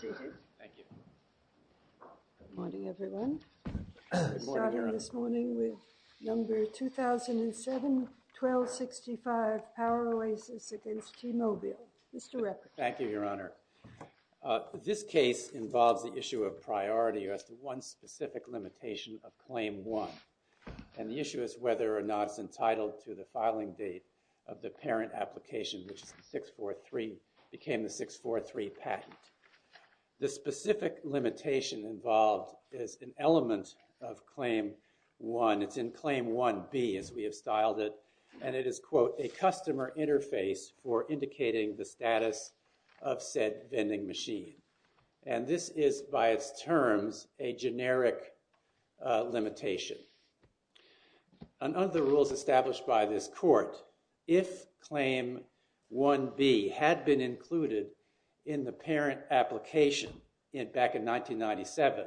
Good morning everyone. Starting this morning with number 2007-1265 Poweroasis against T-Mobile. Mr. Reppin. Thank you, Your Honor. This case involves the issue of priority as to one specific limitation of Claim 1. And the issue is whether or not it's entitled to the filing date of the parent application, which is the 643, became the 643 patent. The specific limitation involved is an element of Claim 1. It's in Claim 1B as we have styled it. And it is, quote, a customer interface for indicating the status of said vending machine. And this is, by its terms, a generic limitation. Under the rules established by this court, if Claim 1B had been included in the parent application back in 1997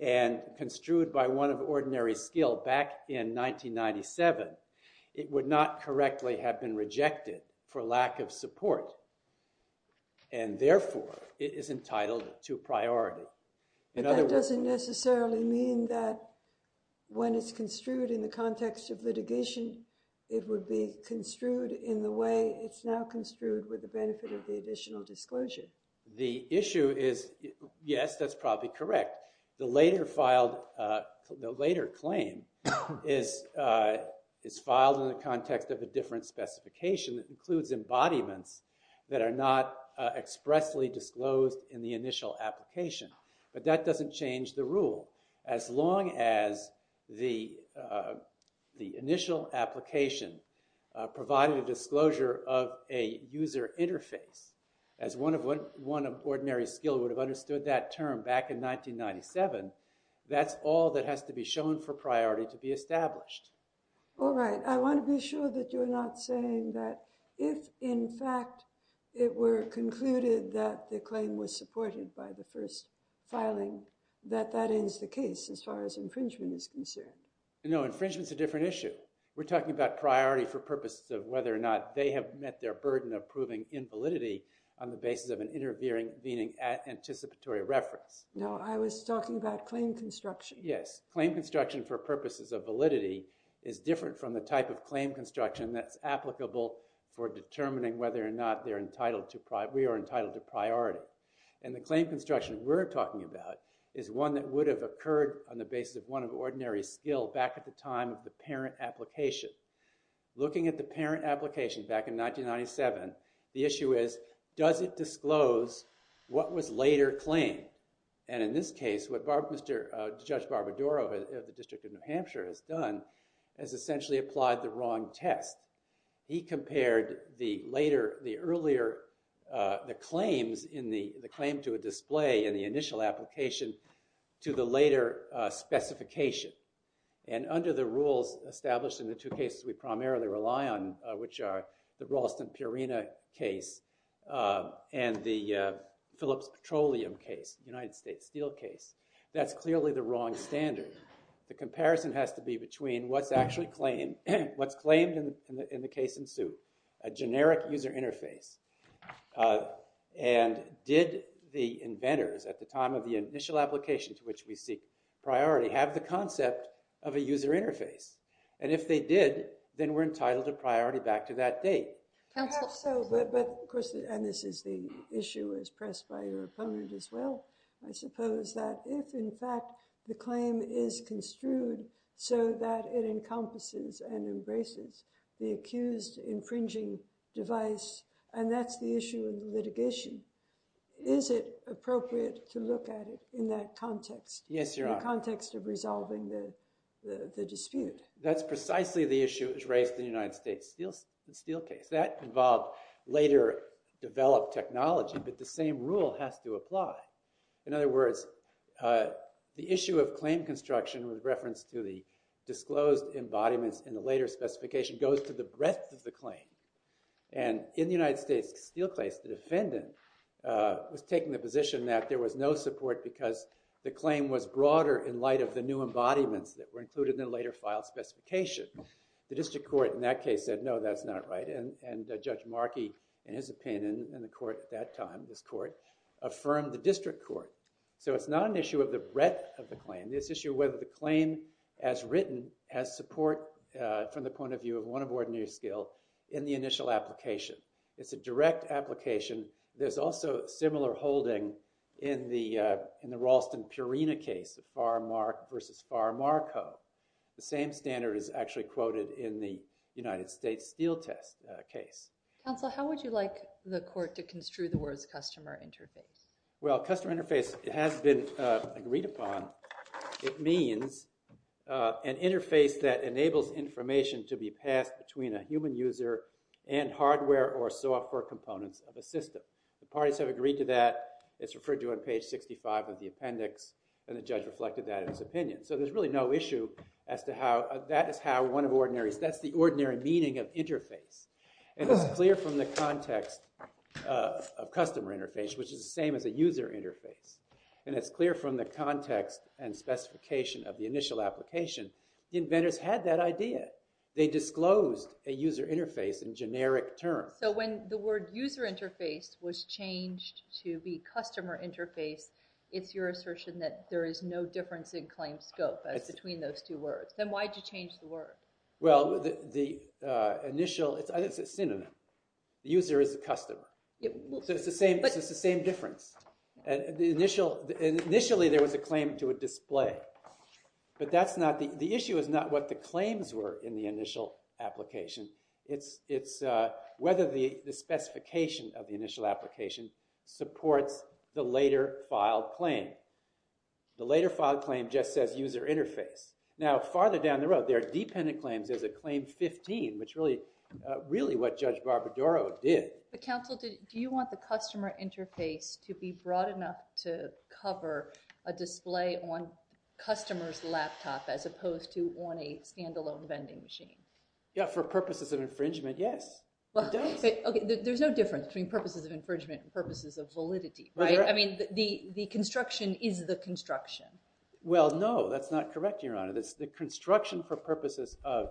and construed by one of ordinary skill back in 1997, it would not correctly have been rejected for lack of support. And therefore, it is entitled to priority. In other words- But that doesn't necessarily mean that when it's construed in the context of litigation, it would be construed in the way it's now construed with the benefit of the additional disclosure. The issue is, yes, that's probably correct. The later claim is filed in the context of a different specification that includes embodiments that are not expressly disclosed in the initial application. But that doesn't change the rule. As long as the initial application provided a disclosure of a user interface, as one of ordinary skill would have understood that term back in 1997, that's all that has to be shown for priority to be established. All right. I want to be sure that you're not saying that if, in fact, it were concluded that the claim was supported by the first filing, that that ends the case as far as infringement is concerned. No, infringement's a different issue. We're talking about priority for purposes of whether or not they have met their burden of proving invalidity on the basis of an intervening anticipatory reference. No, I was talking about claim construction. Yes, claim construction for purposes of validity is different from the type of claim construction that's applicable for determining whether or not we are entitled to priority. And the claim construction we're talking about is one that would have occurred on the basis of one of ordinary skill back at the time of the parent application. Looking at the parent application back in 1997, the issue is, does it disclose what was later claimed? And in this case, what Judge Barbara Dorough of the District of New Hampshire has done is essentially applied the wrong test. He compared the earlier claims in the claim to a display in the initial application to the later specification. And under the rules established in the two cases we primarily rely on, which are the Ralston-Purina case and the Phillips Petroleum case, United States Steel case, that's clearly the wrong standard. The comparison has to be between what's actually claimed, what's claimed in the case in suit, a generic user interface. And did the inventors at the time of the initial application to which we seek priority have the concept of a user interface? And if they did, then we're entitled to priority back to that date. Perhaps so, but of course, and this is the issue as pressed by your opponent as well, I suppose that if in fact the claim is construed so that it encompasses and embraces the accused infringing device, and that's the issue of litigation, is it appropriate to look at it in that context? Yes, Your Honor. The context of resolving the dispute. That's precisely the issue that was raised in the United States Steel case. That involved later developed technology, but the same rule has to apply. In other words, the issue of claim construction with reference to the disclosed embodiments in the later specification goes to the breadth of the claim. And in the United States Steel case, the defendant was taking the position that there was no support because the claim was broader in light of the new embodiments that were included in the later file specification. The district court in that case said, no, that's not right, and Judge Markey, in his opinion, and the court at that time, this court, affirmed the district court. So it's not an issue of the breadth of the claim. It's an issue of whether the claim as written has support from the point of view of one of ordinary skill in the initial application. It's a direct application. There's also similar holding in the Ralston-Purina case, the Farr-Mark v. Farr-Marco. The same standard is actually quoted in the United States Steel case. Counsel, how would you like the court to construe the words customer interface? Well, customer interface has been agreed upon. It means an interface that enables information to be passed between a human user and hardware or software components of a system. The parties have agreed to that. It's referred to on page 65 of the appendix, and the judge reflected that in his opinion. So there's really no issue as to how that is how one of ordinaries, that's the ordinary meaning of interface. And it's clear from the context of customer interface, which is the same as a user interface. And it's clear from the context and specification of the initial application, the inventors had that idea. They disclosed a user interface in generic terms. So when the word user interface was changed to be customer interface, it's your assertion that there is no difference in claim scope between those two words. Then why did you change the word? Well, the initial, it's synonym. The user is the customer. So it's the same difference. Initially there was a claim to a display. But that's not, the issue is not what the claims were in the initial application. It's whether the specification of the initial application supports the later file claim. The later file claim just says user interface. Now, farther down the road, there are dependent claims. There's a claim 15, which really, really what Judge Barbadaro did. But counsel, do you want the customer interface to be broad enough to cover a display on customer's laptop as opposed to on a stand-alone vending machine? Yeah, for purposes of infringement, yes. There's no difference between purposes of infringement and purposes of validity, right? I mean, the construction is the construction. Well, no, that's not correct, Your Honor. The construction for purposes of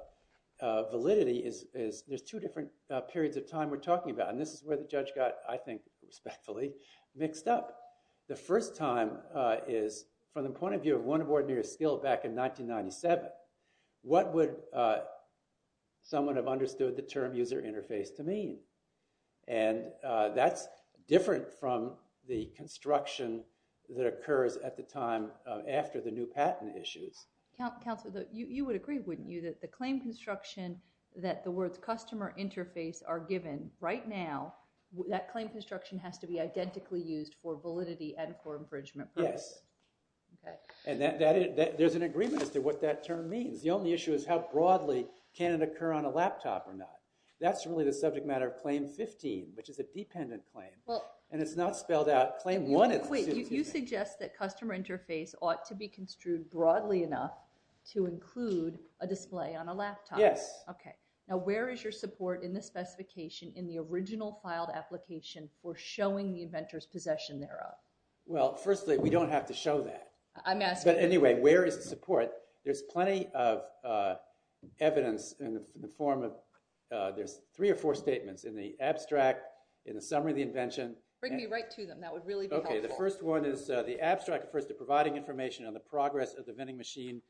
validity is, there's two different periods of time we're talking about. And this is where the judge got, I think, respectfully mixed up. The first time is from the point of view of one of ordinary skill back in 1997. What would someone have understood the term user interface to mean? And that's different from the construction that occurs at the time after the new patent issues. Counsel, you would agree, wouldn't you, that the claim construction that the words customer interface are given right now, that claim construction has to be identically used for validity and for infringement purposes? Yes. And there's an agreement as to what that term means. The only issue is how broadly can it occur on a laptop or not? That's really the subject matter of Claim 15, which is a dependent claim. And it's not spelled out. Claim 1 is. Wait. You suggest that customer interface ought to be construed broadly enough to include a display on a laptop. Yes. Okay. Now, where is your support in the specification in the original filed application for showing the inventor's possession thereof? Well, firstly, we don't have to show that. I'm asking. But anyway, where is the support? There's plenty of evidence in the form of there's three or four statements in the abstract, in the summary of the invention. Bring me right to them. That would really be helpful. Okay. The first one is the abstract refers to providing information on the progress of the vending machine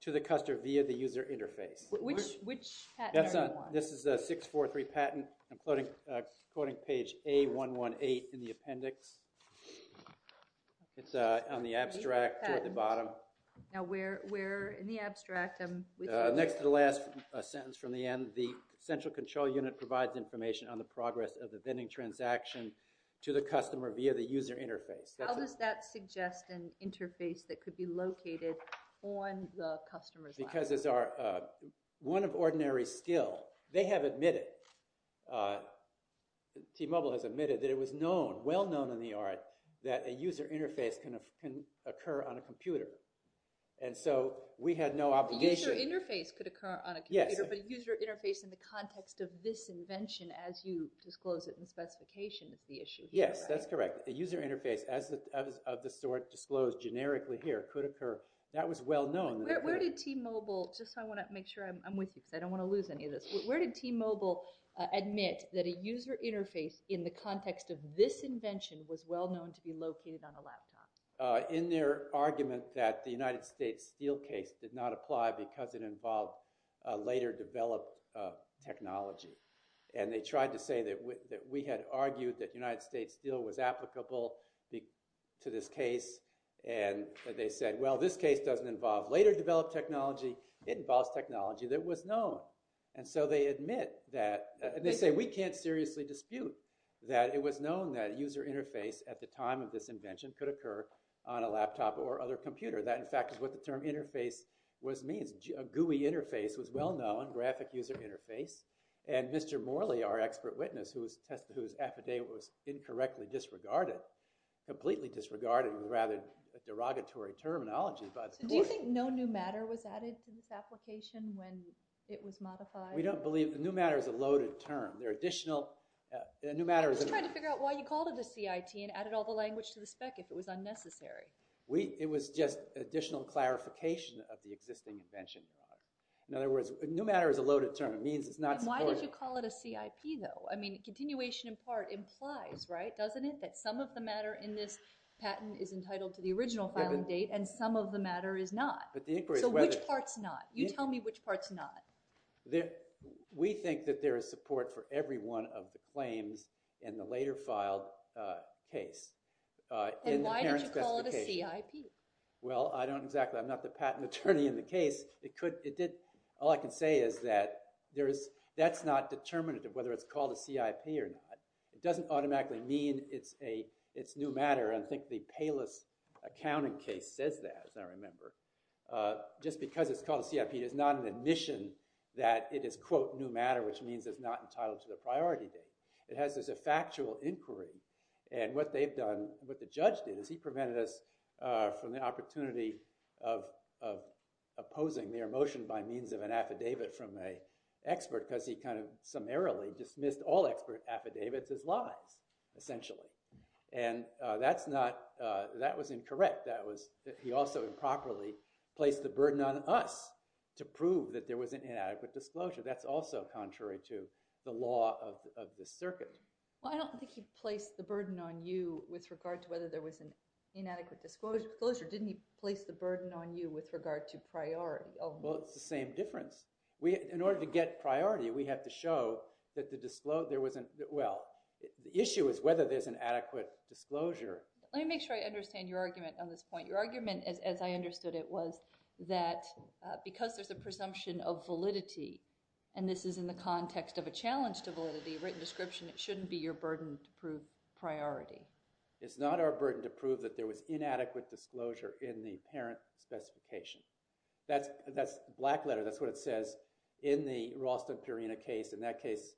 to the customer via the user interface. Which patent are you on? This is 643 patent. I'm quoting page A118 in the appendix. It's on the abstract at the bottom. Now, where in the abstract? Next to the last sentence from the end. The central control unit provides information on the progress of the vending transaction to the customer via the user interface. How does that suggest an interface that could be located on the customer's laptop? Because it's one of ordinary skill. They have admitted, T-Mobile has admitted, that it was well known in the art that a user interface can occur on a computer. And so we had no obligation. A user interface could occur on a computer, but a user interface in the context of this invention, as you disclose it in the specification, is the issue. Yes, that's correct. A user interface, as of the sort disclosed generically here, could occur. That was well known. Where did T-Mobile, just so I want to make sure I'm with you, because I don't want to lose any of this. Where did T-Mobile admit that a user interface in the context of this invention was well known to be located on a laptop? In their argument that the United States Steel case did not apply because it involved later developed technology. And they tried to say that we had argued that United States Steel was applicable to this case. And they said, well, this case doesn't involve later developed technology. It involves technology that was known. And so they admit that, and they say, we can't seriously dispute that it was known that a user interface at the time of this invention could occur on a laptop or other computer. That, in fact, is what the term interface means. A GUI interface was well known, graphic user interface. And Mr. Morley, our expert witness, whose affidavit was incorrectly disregarded, completely disregarded, rather derogatory terminology. Do you think no new matter was added to this application when it was modified? We don't believe the new matter is a loaded term. They're additional. I'm just trying to figure out why you called it a CIT and added all the language to the spec if it was unnecessary. It was just additional clarification of the existing invention. In other words, new matter is a loaded term. It means it's not supported. And why did you call it a CIP, though? I mean, continuation in part implies, right, doesn't it, that some of the matter in this patent is entitled to the original filing date and some of the matter is not? But the inquiry is whether— So which part's not? You tell me which part's not. We think that there is support for every one of the claims in the later filed case. And why did you call it a CIP? Well, I don't exactly—I'm not the patent attorney in the case. All I can say is that that's not determinative whether it's called a CIP or not. It doesn't automatically mean it's new matter. I think the Payless Accounting case says that, as I remember. Just because it's called a CIP, it is not an admission that it is, quote, new matter, which means it's not entitled to the priority date. It has this factual inquiry. And what they've done—what the judge did is he prevented us from the opportunity of opposing their motion by means of an affidavit from an expert because he kind of summarily dismissed all expert affidavits as lies, essentially. And that's not—that was incorrect. That was—he also improperly placed the burden on us to prove that there was an inadequate disclosure. That's also contrary to the law of this circuit. Well, I don't think he placed the burden on you with regard to whether there was an inadequate disclosure. Didn't he place the burden on you with regard to priority? Well, it's the same difference. In order to get priority, we have to show that the—well, the issue is whether there's an adequate disclosure. Let me make sure I understand your argument on this point. Your argument, as I understood it, was that because there's a presumption of validity, and this is in the context of a challenge to validity, written description, it shouldn't be your burden to prove priority. It's not our burden to prove that there was inadequate disclosure in the parent specification. That's black letter. That's what it says in the Ralston-Perina case. In that case,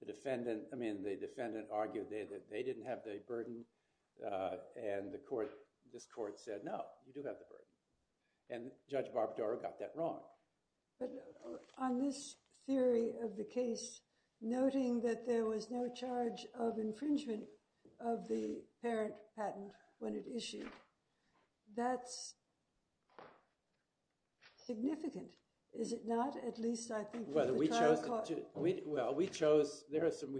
the defendant—I mean, the defendant argued that they didn't have the burden, and the court—this court said, no, you do have the burden. And Judge Barbadaro got that wrong. But on this theory of the case, noting that there was no charge of infringement of the parent patent when it issued, that's significant, is it not? Well, we chose—we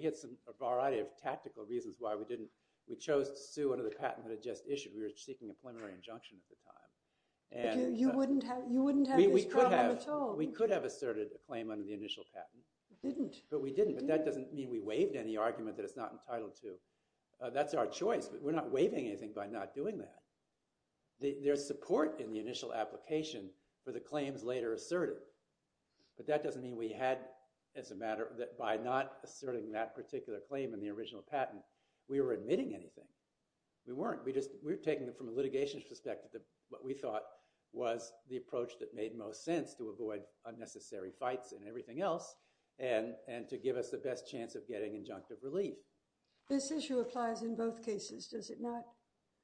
had a variety of tactical reasons why we didn't—we chose to sue under the patent that it just issued. We were seeking a preliminary injunction at the time. You wouldn't have this problem at all. We could have asserted a claim under the initial patent. You didn't. But we didn't, but that doesn't mean we waived any argument that it's not entitled to. That's our choice. We're not waiving anything by not doing that. There's support in the initial application for the claims later asserted, but that doesn't mean we had, as a matter—that by not asserting that particular claim in the original patent, we were admitting anything. We weren't. We just—we were taking it from a litigation perspective that what we thought was the approach that made most sense to avoid unnecessary fights and everything else and to give us the best chance of getting injunctive relief. This issue applies in both cases, does it not?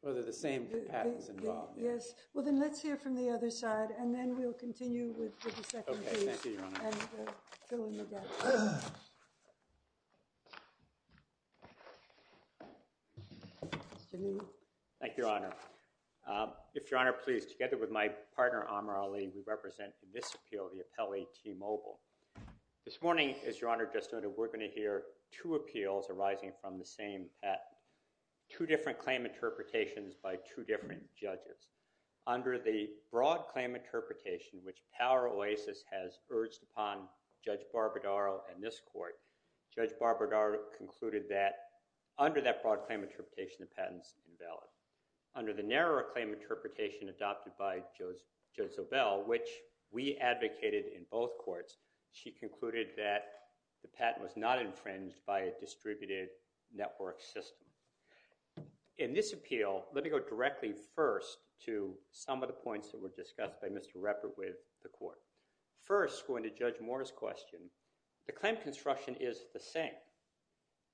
Well, they're the same patents involved. Yes. Well, then let's hear from the other side, and then we'll continue with the second case. Okay. Thank you, Your Honor. And fill in the gaps. Mr. Newman. Thank you, Your Honor. If Your Honor please, together with my partner, Amar Ali, we represent in this appeal the appellee T. Mobile. This morning, as Your Honor just noted, we're going to hear two appeals arising from the same patent, two different claim interpretations by two different judges. Under the broad claim interpretation, which Power Oasis has urged upon Judge Barbadaro and this court, Judge Barbadaro concluded that under that broad claim interpretation, the patent's invalid. Under the narrower claim interpretation adopted by Judge Zobel, which we advocated in both courts, she concluded that the patent was not infringed by a distributed network system. In this appeal, let me go directly first to some of the points that were discussed by Mr. Reppert with the court. First, going to Judge Moore's question, the claim construction is the same.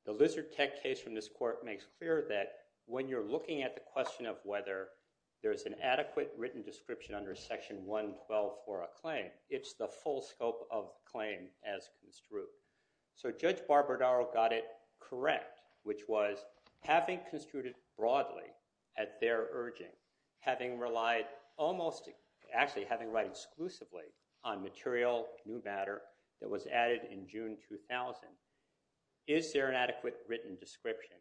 The Lizard Tech case from this court makes clear that when you're looking at the question of whether there's an adequate written description under Section 112 for a claim, it's the full scope of the claim as construed. So Judge Barbadaro got it correct, which was having construed it broadly at their urging, having relied almost actually having read exclusively on material new matter that was added in June 2000. Is there an adequate written description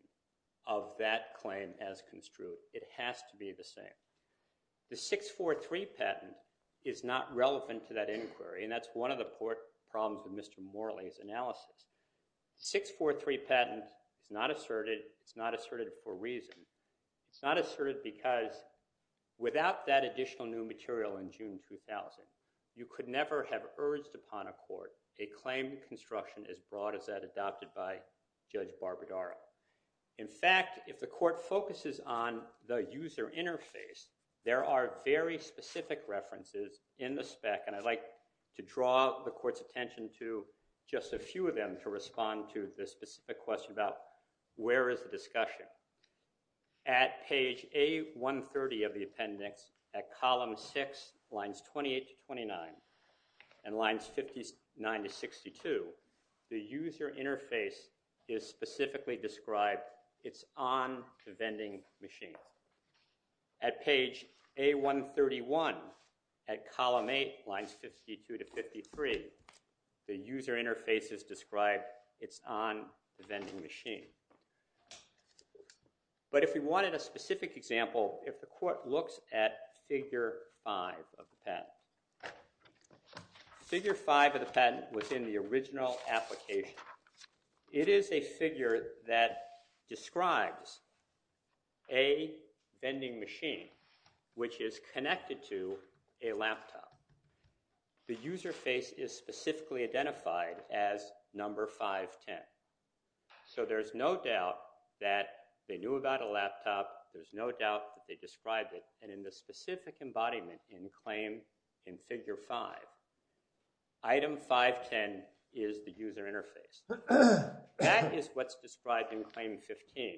of that claim as construed? It has to be the same. The 643 patent is not relevant to that inquiry, and that's one of the court problems with Mr. Morley's analysis. The 643 patent is not asserted. It's not asserted for a reason. It's not asserted because without that additional new material in June 2000, you could never have urged upon a court a claim construction as broad as that adopted by Judge Barbadaro. In fact, if the court focuses on the user interface, there are very specific references in the spec, and I'd like to draw the court's attention to just a few of them to respond to the specific question about where is the discussion. At page A130 of the appendix, at column 6, lines 28 to 29, and lines 59 to 62, the user interface is specifically described, it's on the vending machine. At page A131 at column 8, lines 52 to 53, the user interface is described, it's on the vending machine. But if we wanted a specific example, if the court looks at figure 5 of the patent, figure 5 of the patent was in the original application. It is a figure that describes a vending machine which is connected to a laptop. The user face is specifically identified as number 510. So there's no doubt that they knew about a laptop. There's no doubt that they described it. And in the specific embodiment in claim in figure 5, item 510 is the user interface. That is what's described in claim 15.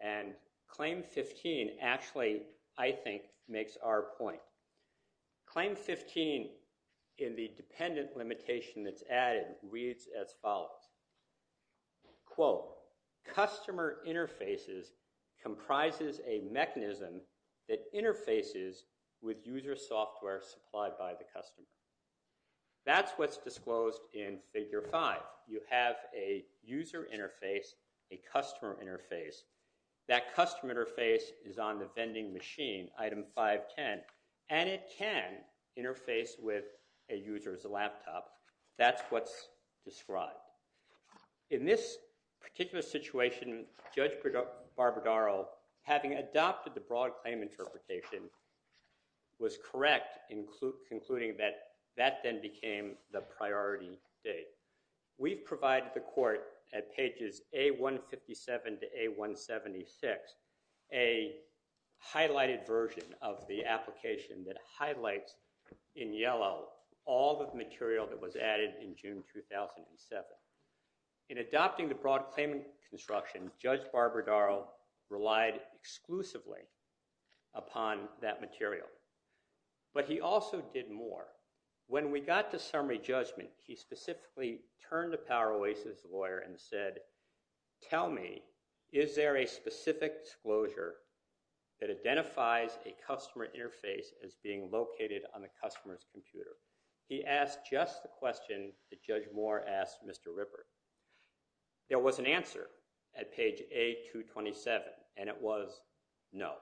And claim 15 actually, I think, makes our point. Claim 15 in the dependent limitation that's added reads as follows. Quote, customer interfaces comprises a mechanism that interfaces with user software supplied by the customer. That's what's disclosed in figure 5. You have a user interface, a customer interface. That customer interface is on the vending machine, item 510, and it can interface with a user's laptop. That's what's described. In this particular situation, Judge Barbadaro, having adopted the broad claim interpretation, was correct in concluding that that then became the priority date. We've provided the court at pages A157 to A176 a highlighted version of the application that highlights in yellow all the material that was added in June 2007. In adopting the broad claim construction, Judge Barbadaro relied exclusively upon that material. But he also did more. When we got to summary judgment, he specifically turned to Power Oasis lawyer and said, tell me, is there a specific disclosure that identifies a customer interface as being located on the customer's computer? He asked just the question that Judge Moore asked Mr. Rippert. There was an answer at page A227, and it was no.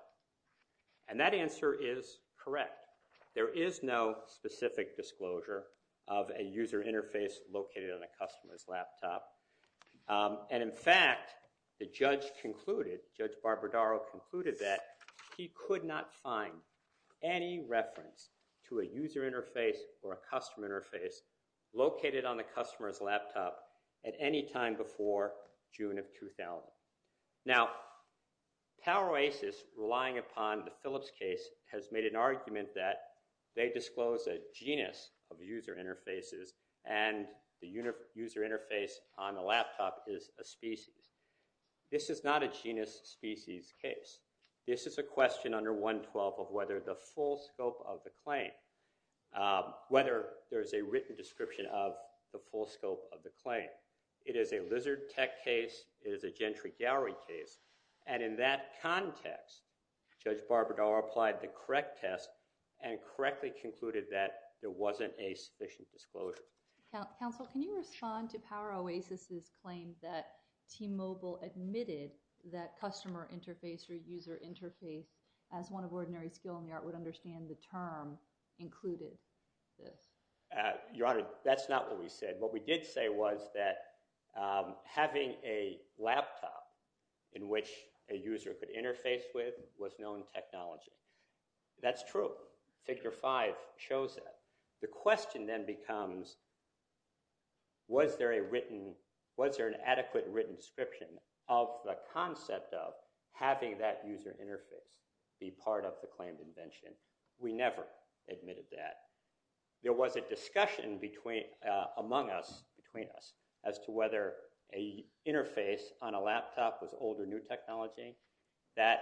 And that answer is correct. There is no specific disclosure of a user interface located on a customer's laptop. And in fact, the judge concluded, Judge Barbadaro concluded that he could not find any reference to a user interface or a customer interface located on the customer's laptop at any time before June of 2000. Now, Power Oasis, relying upon the Phillips case, has made an argument that they disclose a genus of user interfaces and the user interface on the laptop is a species. This is not a genus species case. This is a question under 112 of whether the full scope of the claim, whether there is a written description of the full scope of the claim. It is a lizard tech case. It is a gentry gallery case. And in that context, Judge Barbadaro applied the correct test and correctly concluded that there wasn't a sufficient disclosure. Counsel, can you respond to Power Oasis' claim that T-Mobile admitted that customer interface or user interface, as one of ordinary skill in the art would understand the term, included this? Your Honor, that's not what we said. What we did say was that having a laptop in which a user could interface with was known technology. That's true. Figure 5 shows that. The question then becomes, was there a written, was there an adequate written description of the concept of having that user interface be part of the claimed invention? We never admitted that. There was a discussion among us, between us, as to whether an interface on a laptop was old or new technology. That,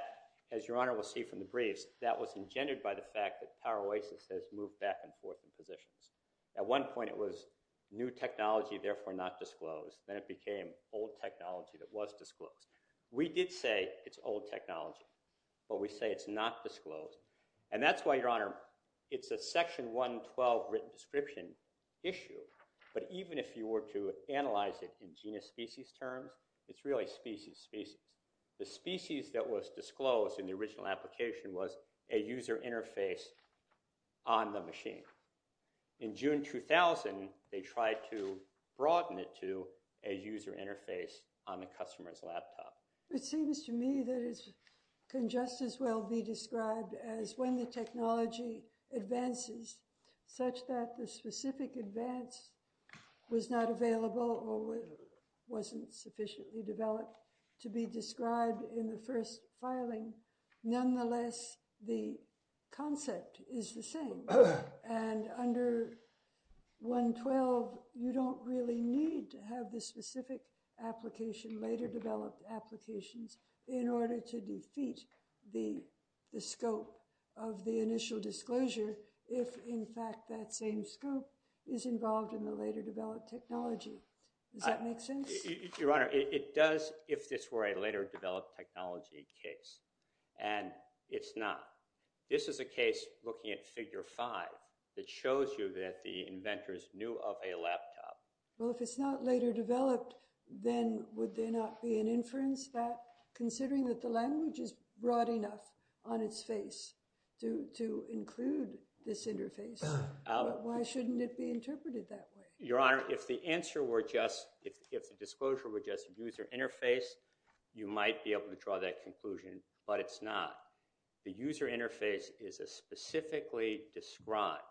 as Your Honor will see from the briefs, that was engendered by the fact that Power Oasis has moved back and forth in positions. At one point it was new technology, therefore not disclosed. Then it became old technology that was disclosed. We did say it's old technology. But we say it's not disclosed. And that's why, Your Honor, it's a Section 112 written description issue. But even if you were to analyze it in genus-species terms, it's really species-species. The species that was disclosed in the original application was a user interface on the machine. In June 2000, they tried to broaden it to a user interface on the customer's laptop. It seems to me that it can just as well be described as when the technology advances, such that the specific advance was not available or wasn't sufficiently developed to be described in the first filing. Nonetheless, the concept is the same. And under 112, you don't really need to have the specific application, later-developed applications, in order to defeat the scope of the initial disclosure if, in fact, that same scope is involved in the later-developed technology. Does that make sense? Your Honor, it does if this were a later-developed technology case. And it's not. This is a case looking at Figure 5 that shows you that the inventors knew of a laptop. Well, if it's not later-developed, then would there not be an inference that, considering that the language is broad enough on its face to include this interface, why shouldn't it be interpreted that way? Your Honor, if the disclosure were just user interface, you might be able to draw that conclusion, but it's not. The user interface is a specifically described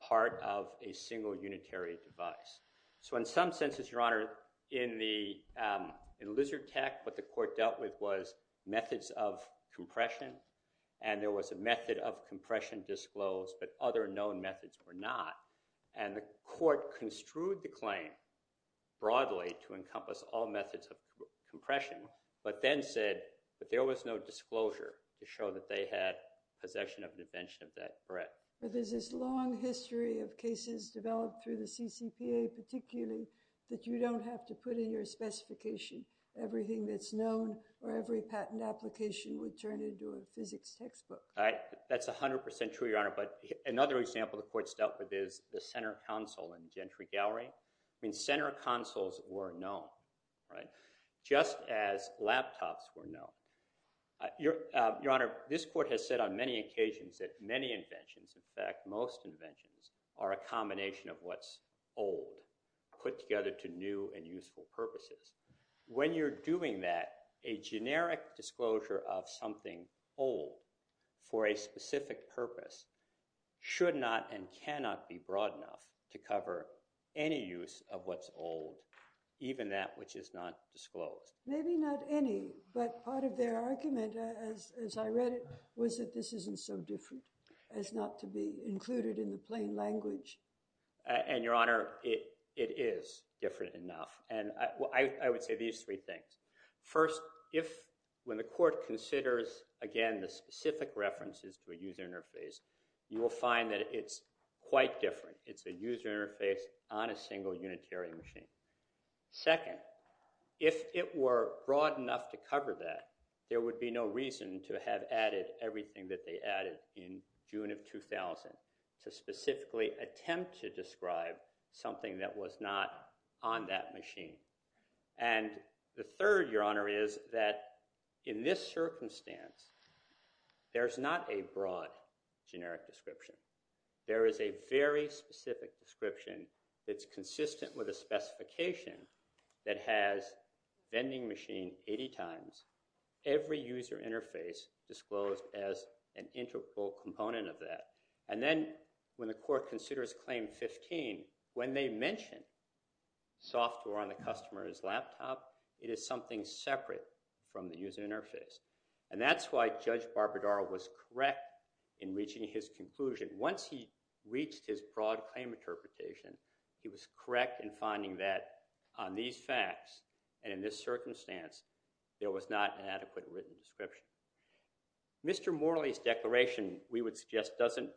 part of a single unitary device. So in some senses, Your Honor, in Lizard Tech, what the court dealt with was methods of compression, and there was a method of compression disclosed, but other known methods were not. And the court construed the claim broadly to encompass all methods of compression, but then said that there was no disclosure to show that they had possession of an invention of that breadth. But there's this long history of cases developed through the CCPA, particularly that you don't have to put in your specification. Everything that's known or every patent application would turn into a physics textbook. That's 100% true, Your Honor. But another example the court's dealt with is the center console in Gentry Gallery. I mean, center consoles were known. Just as laptops were known. Your Honor, this court has said on many occasions that many inventions, in fact, most inventions, are a combination of what's old put together to new and useful purposes. When you're doing that, a generic disclosure of something old for a specific purpose should not and cannot be broad enough to cover any use of what's old, even that which is not disclosed. Maybe not any, but part of their argument, as I read it, was that this isn't so different as not to be included in the plain language. And, Your Honor, it is different enough. And I would say these three things. First, when the court considers, again, the specific references to a user interface, you will find that it's quite different. It's a user interface on a single unitary machine. Second, if it were broad enough to cover that, there would be no reason to have added everything that they added in June of 2000 to specifically attempt to describe something that was not on that machine. And the third, Your Honor, is that in this circumstance, there's not a broad generic description. There is a very specific description that's consistent with a specification that has vending machine 80 times, every user interface disclosed as an integral component of that. And then when the court considers claim 15, when they mention software on the customer's laptop, it is something separate from the user interface. And that's why Judge Barbadaro was correct in reaching his conclusion. Once he reached his broad claim interpretation, he was correct in finding that on these facts and in this circumstance, there was not an adequate written description. Mr. Morley's declaration, we would suggest, doesn't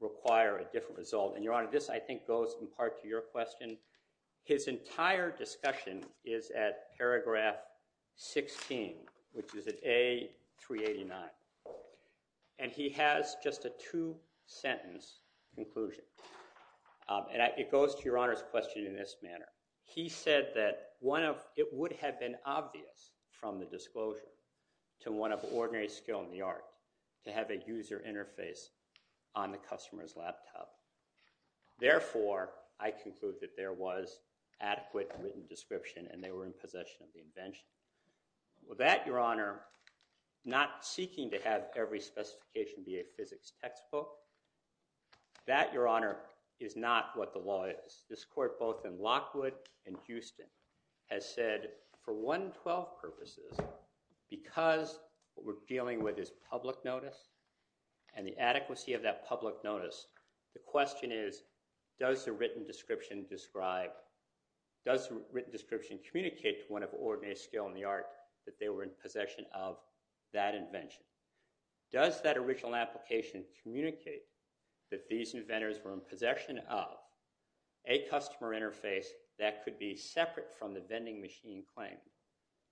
require a different result. And, Your Honor, this, I think, goes in part to your question. His entire discussion is at paragraph 16, which is at A389. And he has just a two-sentence conclusion. And it goes to Your Honor's question in this manner. He said that it would have been obvious from the disclosure to one of ordinary skill in the art to have a user interface on the customer's laptop. Therefore, I conclude that there was adequate written description and they were in possession of the invention. That, Your Honor, not seeking to have every specification be a physics textbook, that, Your Honor, is not what the law is. This court, both in Lockwood and Houston, has said for 112 purposes, because what we're dealing with is public notice and the adequacy of that public notice, the question is, does the written description communicate to one of ordinary skill in the art that they were in possession of that invention? Does that original application communicate that these inventors were in possession of a customer interface that could be separate from the vending machine claim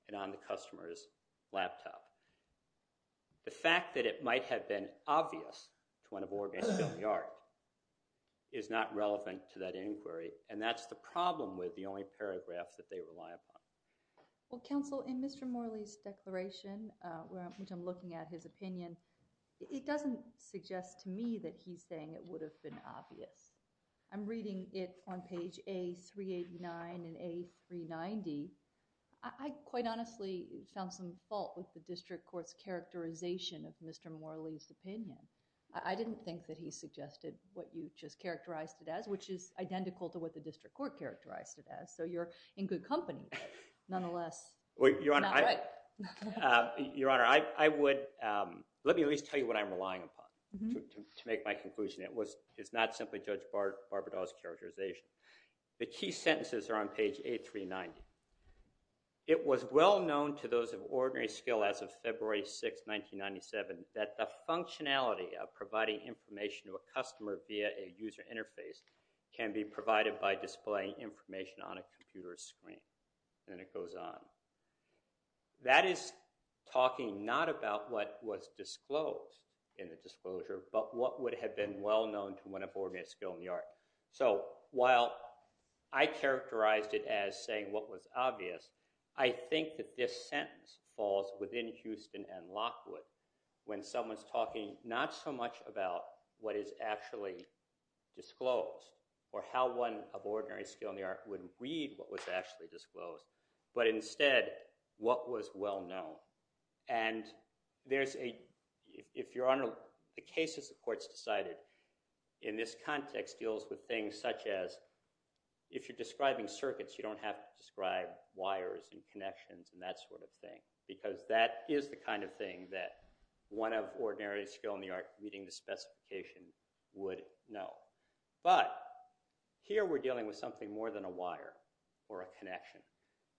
and on the customer's laptop? The fact that it might have been obvious to one of ordinary skill in the art is not relevant to that inquiry, and that's the problem with the only paragraphs that they rely upon. Well, counsel, in Mr. Morley's declaration, which I'm looking at his opinion, it doesn't suggest to me that he's saying it would have been obvious. I'm reading it on page A389 and A390. I quite honestly found some fault with the district court's characterization of Mr. Morley's opinion. I didn't think that he suggested what you just characterized it as, which is identical to what the district court characterized it as, so you're in good company. Nonetheless, you're not right. Your Honor, let me at least tell you what I'm relying upon to make my conclusion. It's not simply Judge Barberdaw's characterization. The key sentences are on page A390. It was well known to those of ordinary skill as of February 6, 1997, that the functionality of providing information to a customer via a user interface can be provided by displaying information on a computer screen, and it goes on. That is talking not about what was disclosed in the disclosure, but what would have been well known to one of ordinary skill in the art. So while I characterized it as saying what was obvious, I think that this sentence falls within Houston and Lockwood when someone's talking not so much about what is actually disclosed or how one of ordinary skill in the art would read what was actually disclosed, but instead what was well known. And if Your Honor, the case as the court's decided in this context deals with things such as if you're describing circuits, you don't have to describe wires and connections and that sort of thing because that is the kind of thing that one of ordinary skill in the art reading the specification would know. But here we're dealing with something more than a wire or a connection.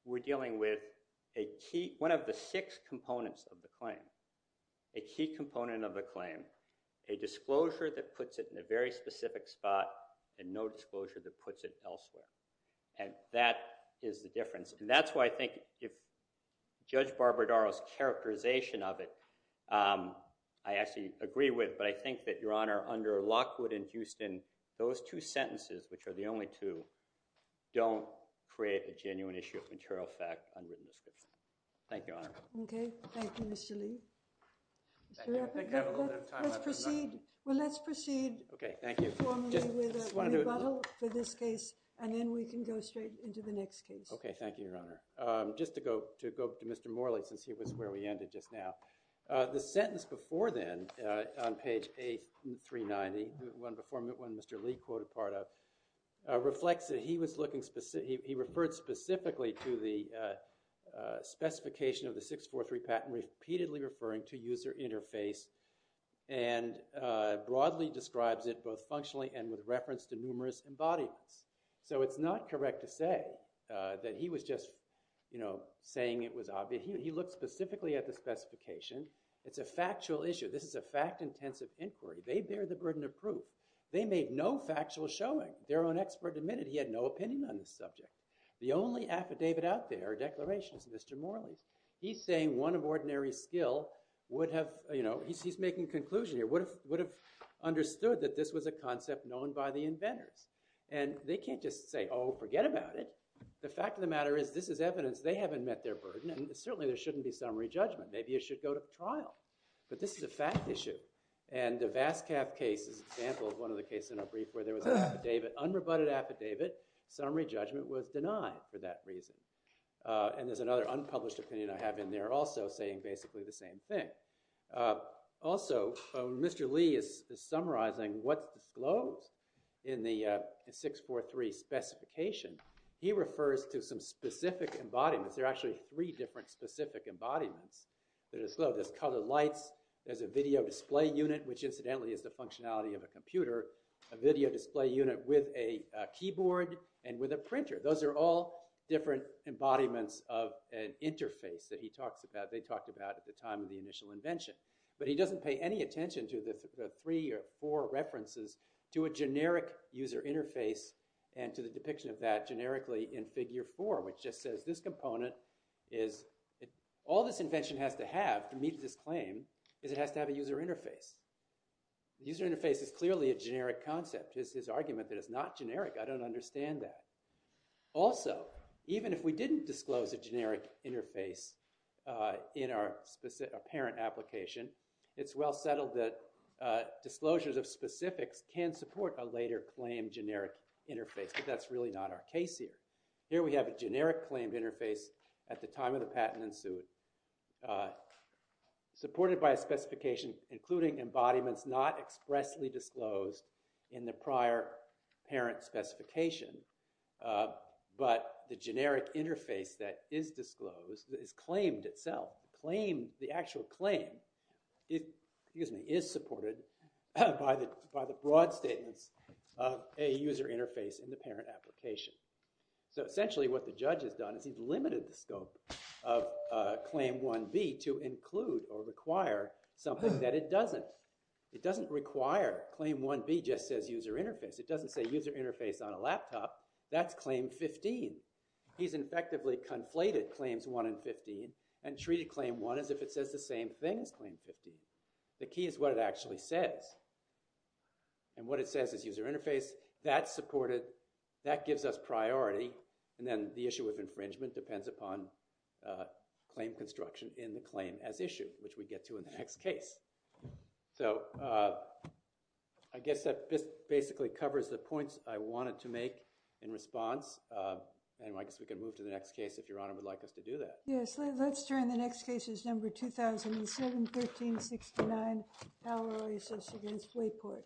We're dealing with one of the six components of the claim, a key component of the claim, a disclosure that puts it in a very specific spot and no disclosure that puts it elsewhere. And that is the difference. And that's why I think if Judge Barbadaro's characterization of it, I actually agree with, but I think that, Your Honor, under Lockwood and Houston, those two sentences, which are the only two, don't create a genuine issue of material fact on written description. Thank you, Your Honor. Okay. Thank you, Mr. Lee. Let's proceed formally with a rebuttal for this case and then we can go straight into the next case. Okay. Thank you, Your Honor. Just to go to Mr. Morley since he was where we ended just now. The sentence before then on page A390, the one before Mr. Lee quoted part of, reflects that he referred specifically to the specification of the 643 patent repeatedly referring to user interface and broadly describes it both functionally and with reference to numerous embodiments. So it's not correct to say that he was just saying it was obvious. He looked specifically at the specification. It's a factual issue. This is a fact-intensive inquiry. They bear the burden of proof. They made no factual showing. Their own expert admitted he had no opinion on this subject. The only affidavit out there or declaration is Mr. Morley's. He's saying one of ordinary skill would have, you know, he's making a conclusion here, would have understood that this was a concept known by the inventors. And they can't just say, oh, forget about it. The fact of the matter is this is evidence they haven't met their burden and certainly there shouldn't be summary judgment. Maybe it should go to trial. But this is a fact issue and the Vascaff case is an example of one of the cases in our brief where there was an affidavit, unrebutted affidavit. Summary judgment was denied for that reason. And there's another unpublished opinion I have in there also saying basically the same thing. Also, Mr. Lee is summarizing what's disclosed in the 643 specification. He refers to some specific embodiments. There are actually three different specific embodiments that are disclosed. There's colored lights, there's a video display unit, which incidentally is the functionality of a computer, a video display unit with a keyboard and with a printer. Those are all different embodiments of an interface that he talks about, they talked about at the time of the initial invention. But he doesn't pay any attention to the three or four references to a generic user interface and to the depiction of that generically in figure four, which just says this component is, all this invention has to have to meet this claim is it has to have a user interface. User interface is clearly a generic concept. It's his argument that it's not generic, I don't understand that. Also, even if we didn't disclose a generic interface in our apparent application, it's well settled that disclosures of specifics can support a later claimed generic interface, but that's really not our case here. Here we have a generic claimed interface at the time of the patent in suit, supported by a specification including embodiments not expressly disclosed in the prior parent specification, but the generic interface that is disclosed is claimed itself. The actual claim is supported by the broad statements of a user interface in the parent application. Essentially what the judge has done is he's limited the scope of claim 1B to include or require something that it doesn't. It doesn't require claim 1B just says user interface. It doesn't say user interface on a laptop, that's claim 15. He's effectively conflated claims 1 and 15 and treated claim 1 as if it says the same thing as claim 15. The key is what it actually says. What it says is user interface, that's supported, that gives us priority, and then the issue of infringement depends upon claim construction in the claim as issue, which we get to in the next case. So I guess that basically covers the points I wanted to make in response, and I guess we can move to the next case if Your Honor would like us to do that. Yes, let's turn to the next case, which is number 2007-1369, Power Oasis against Wayport.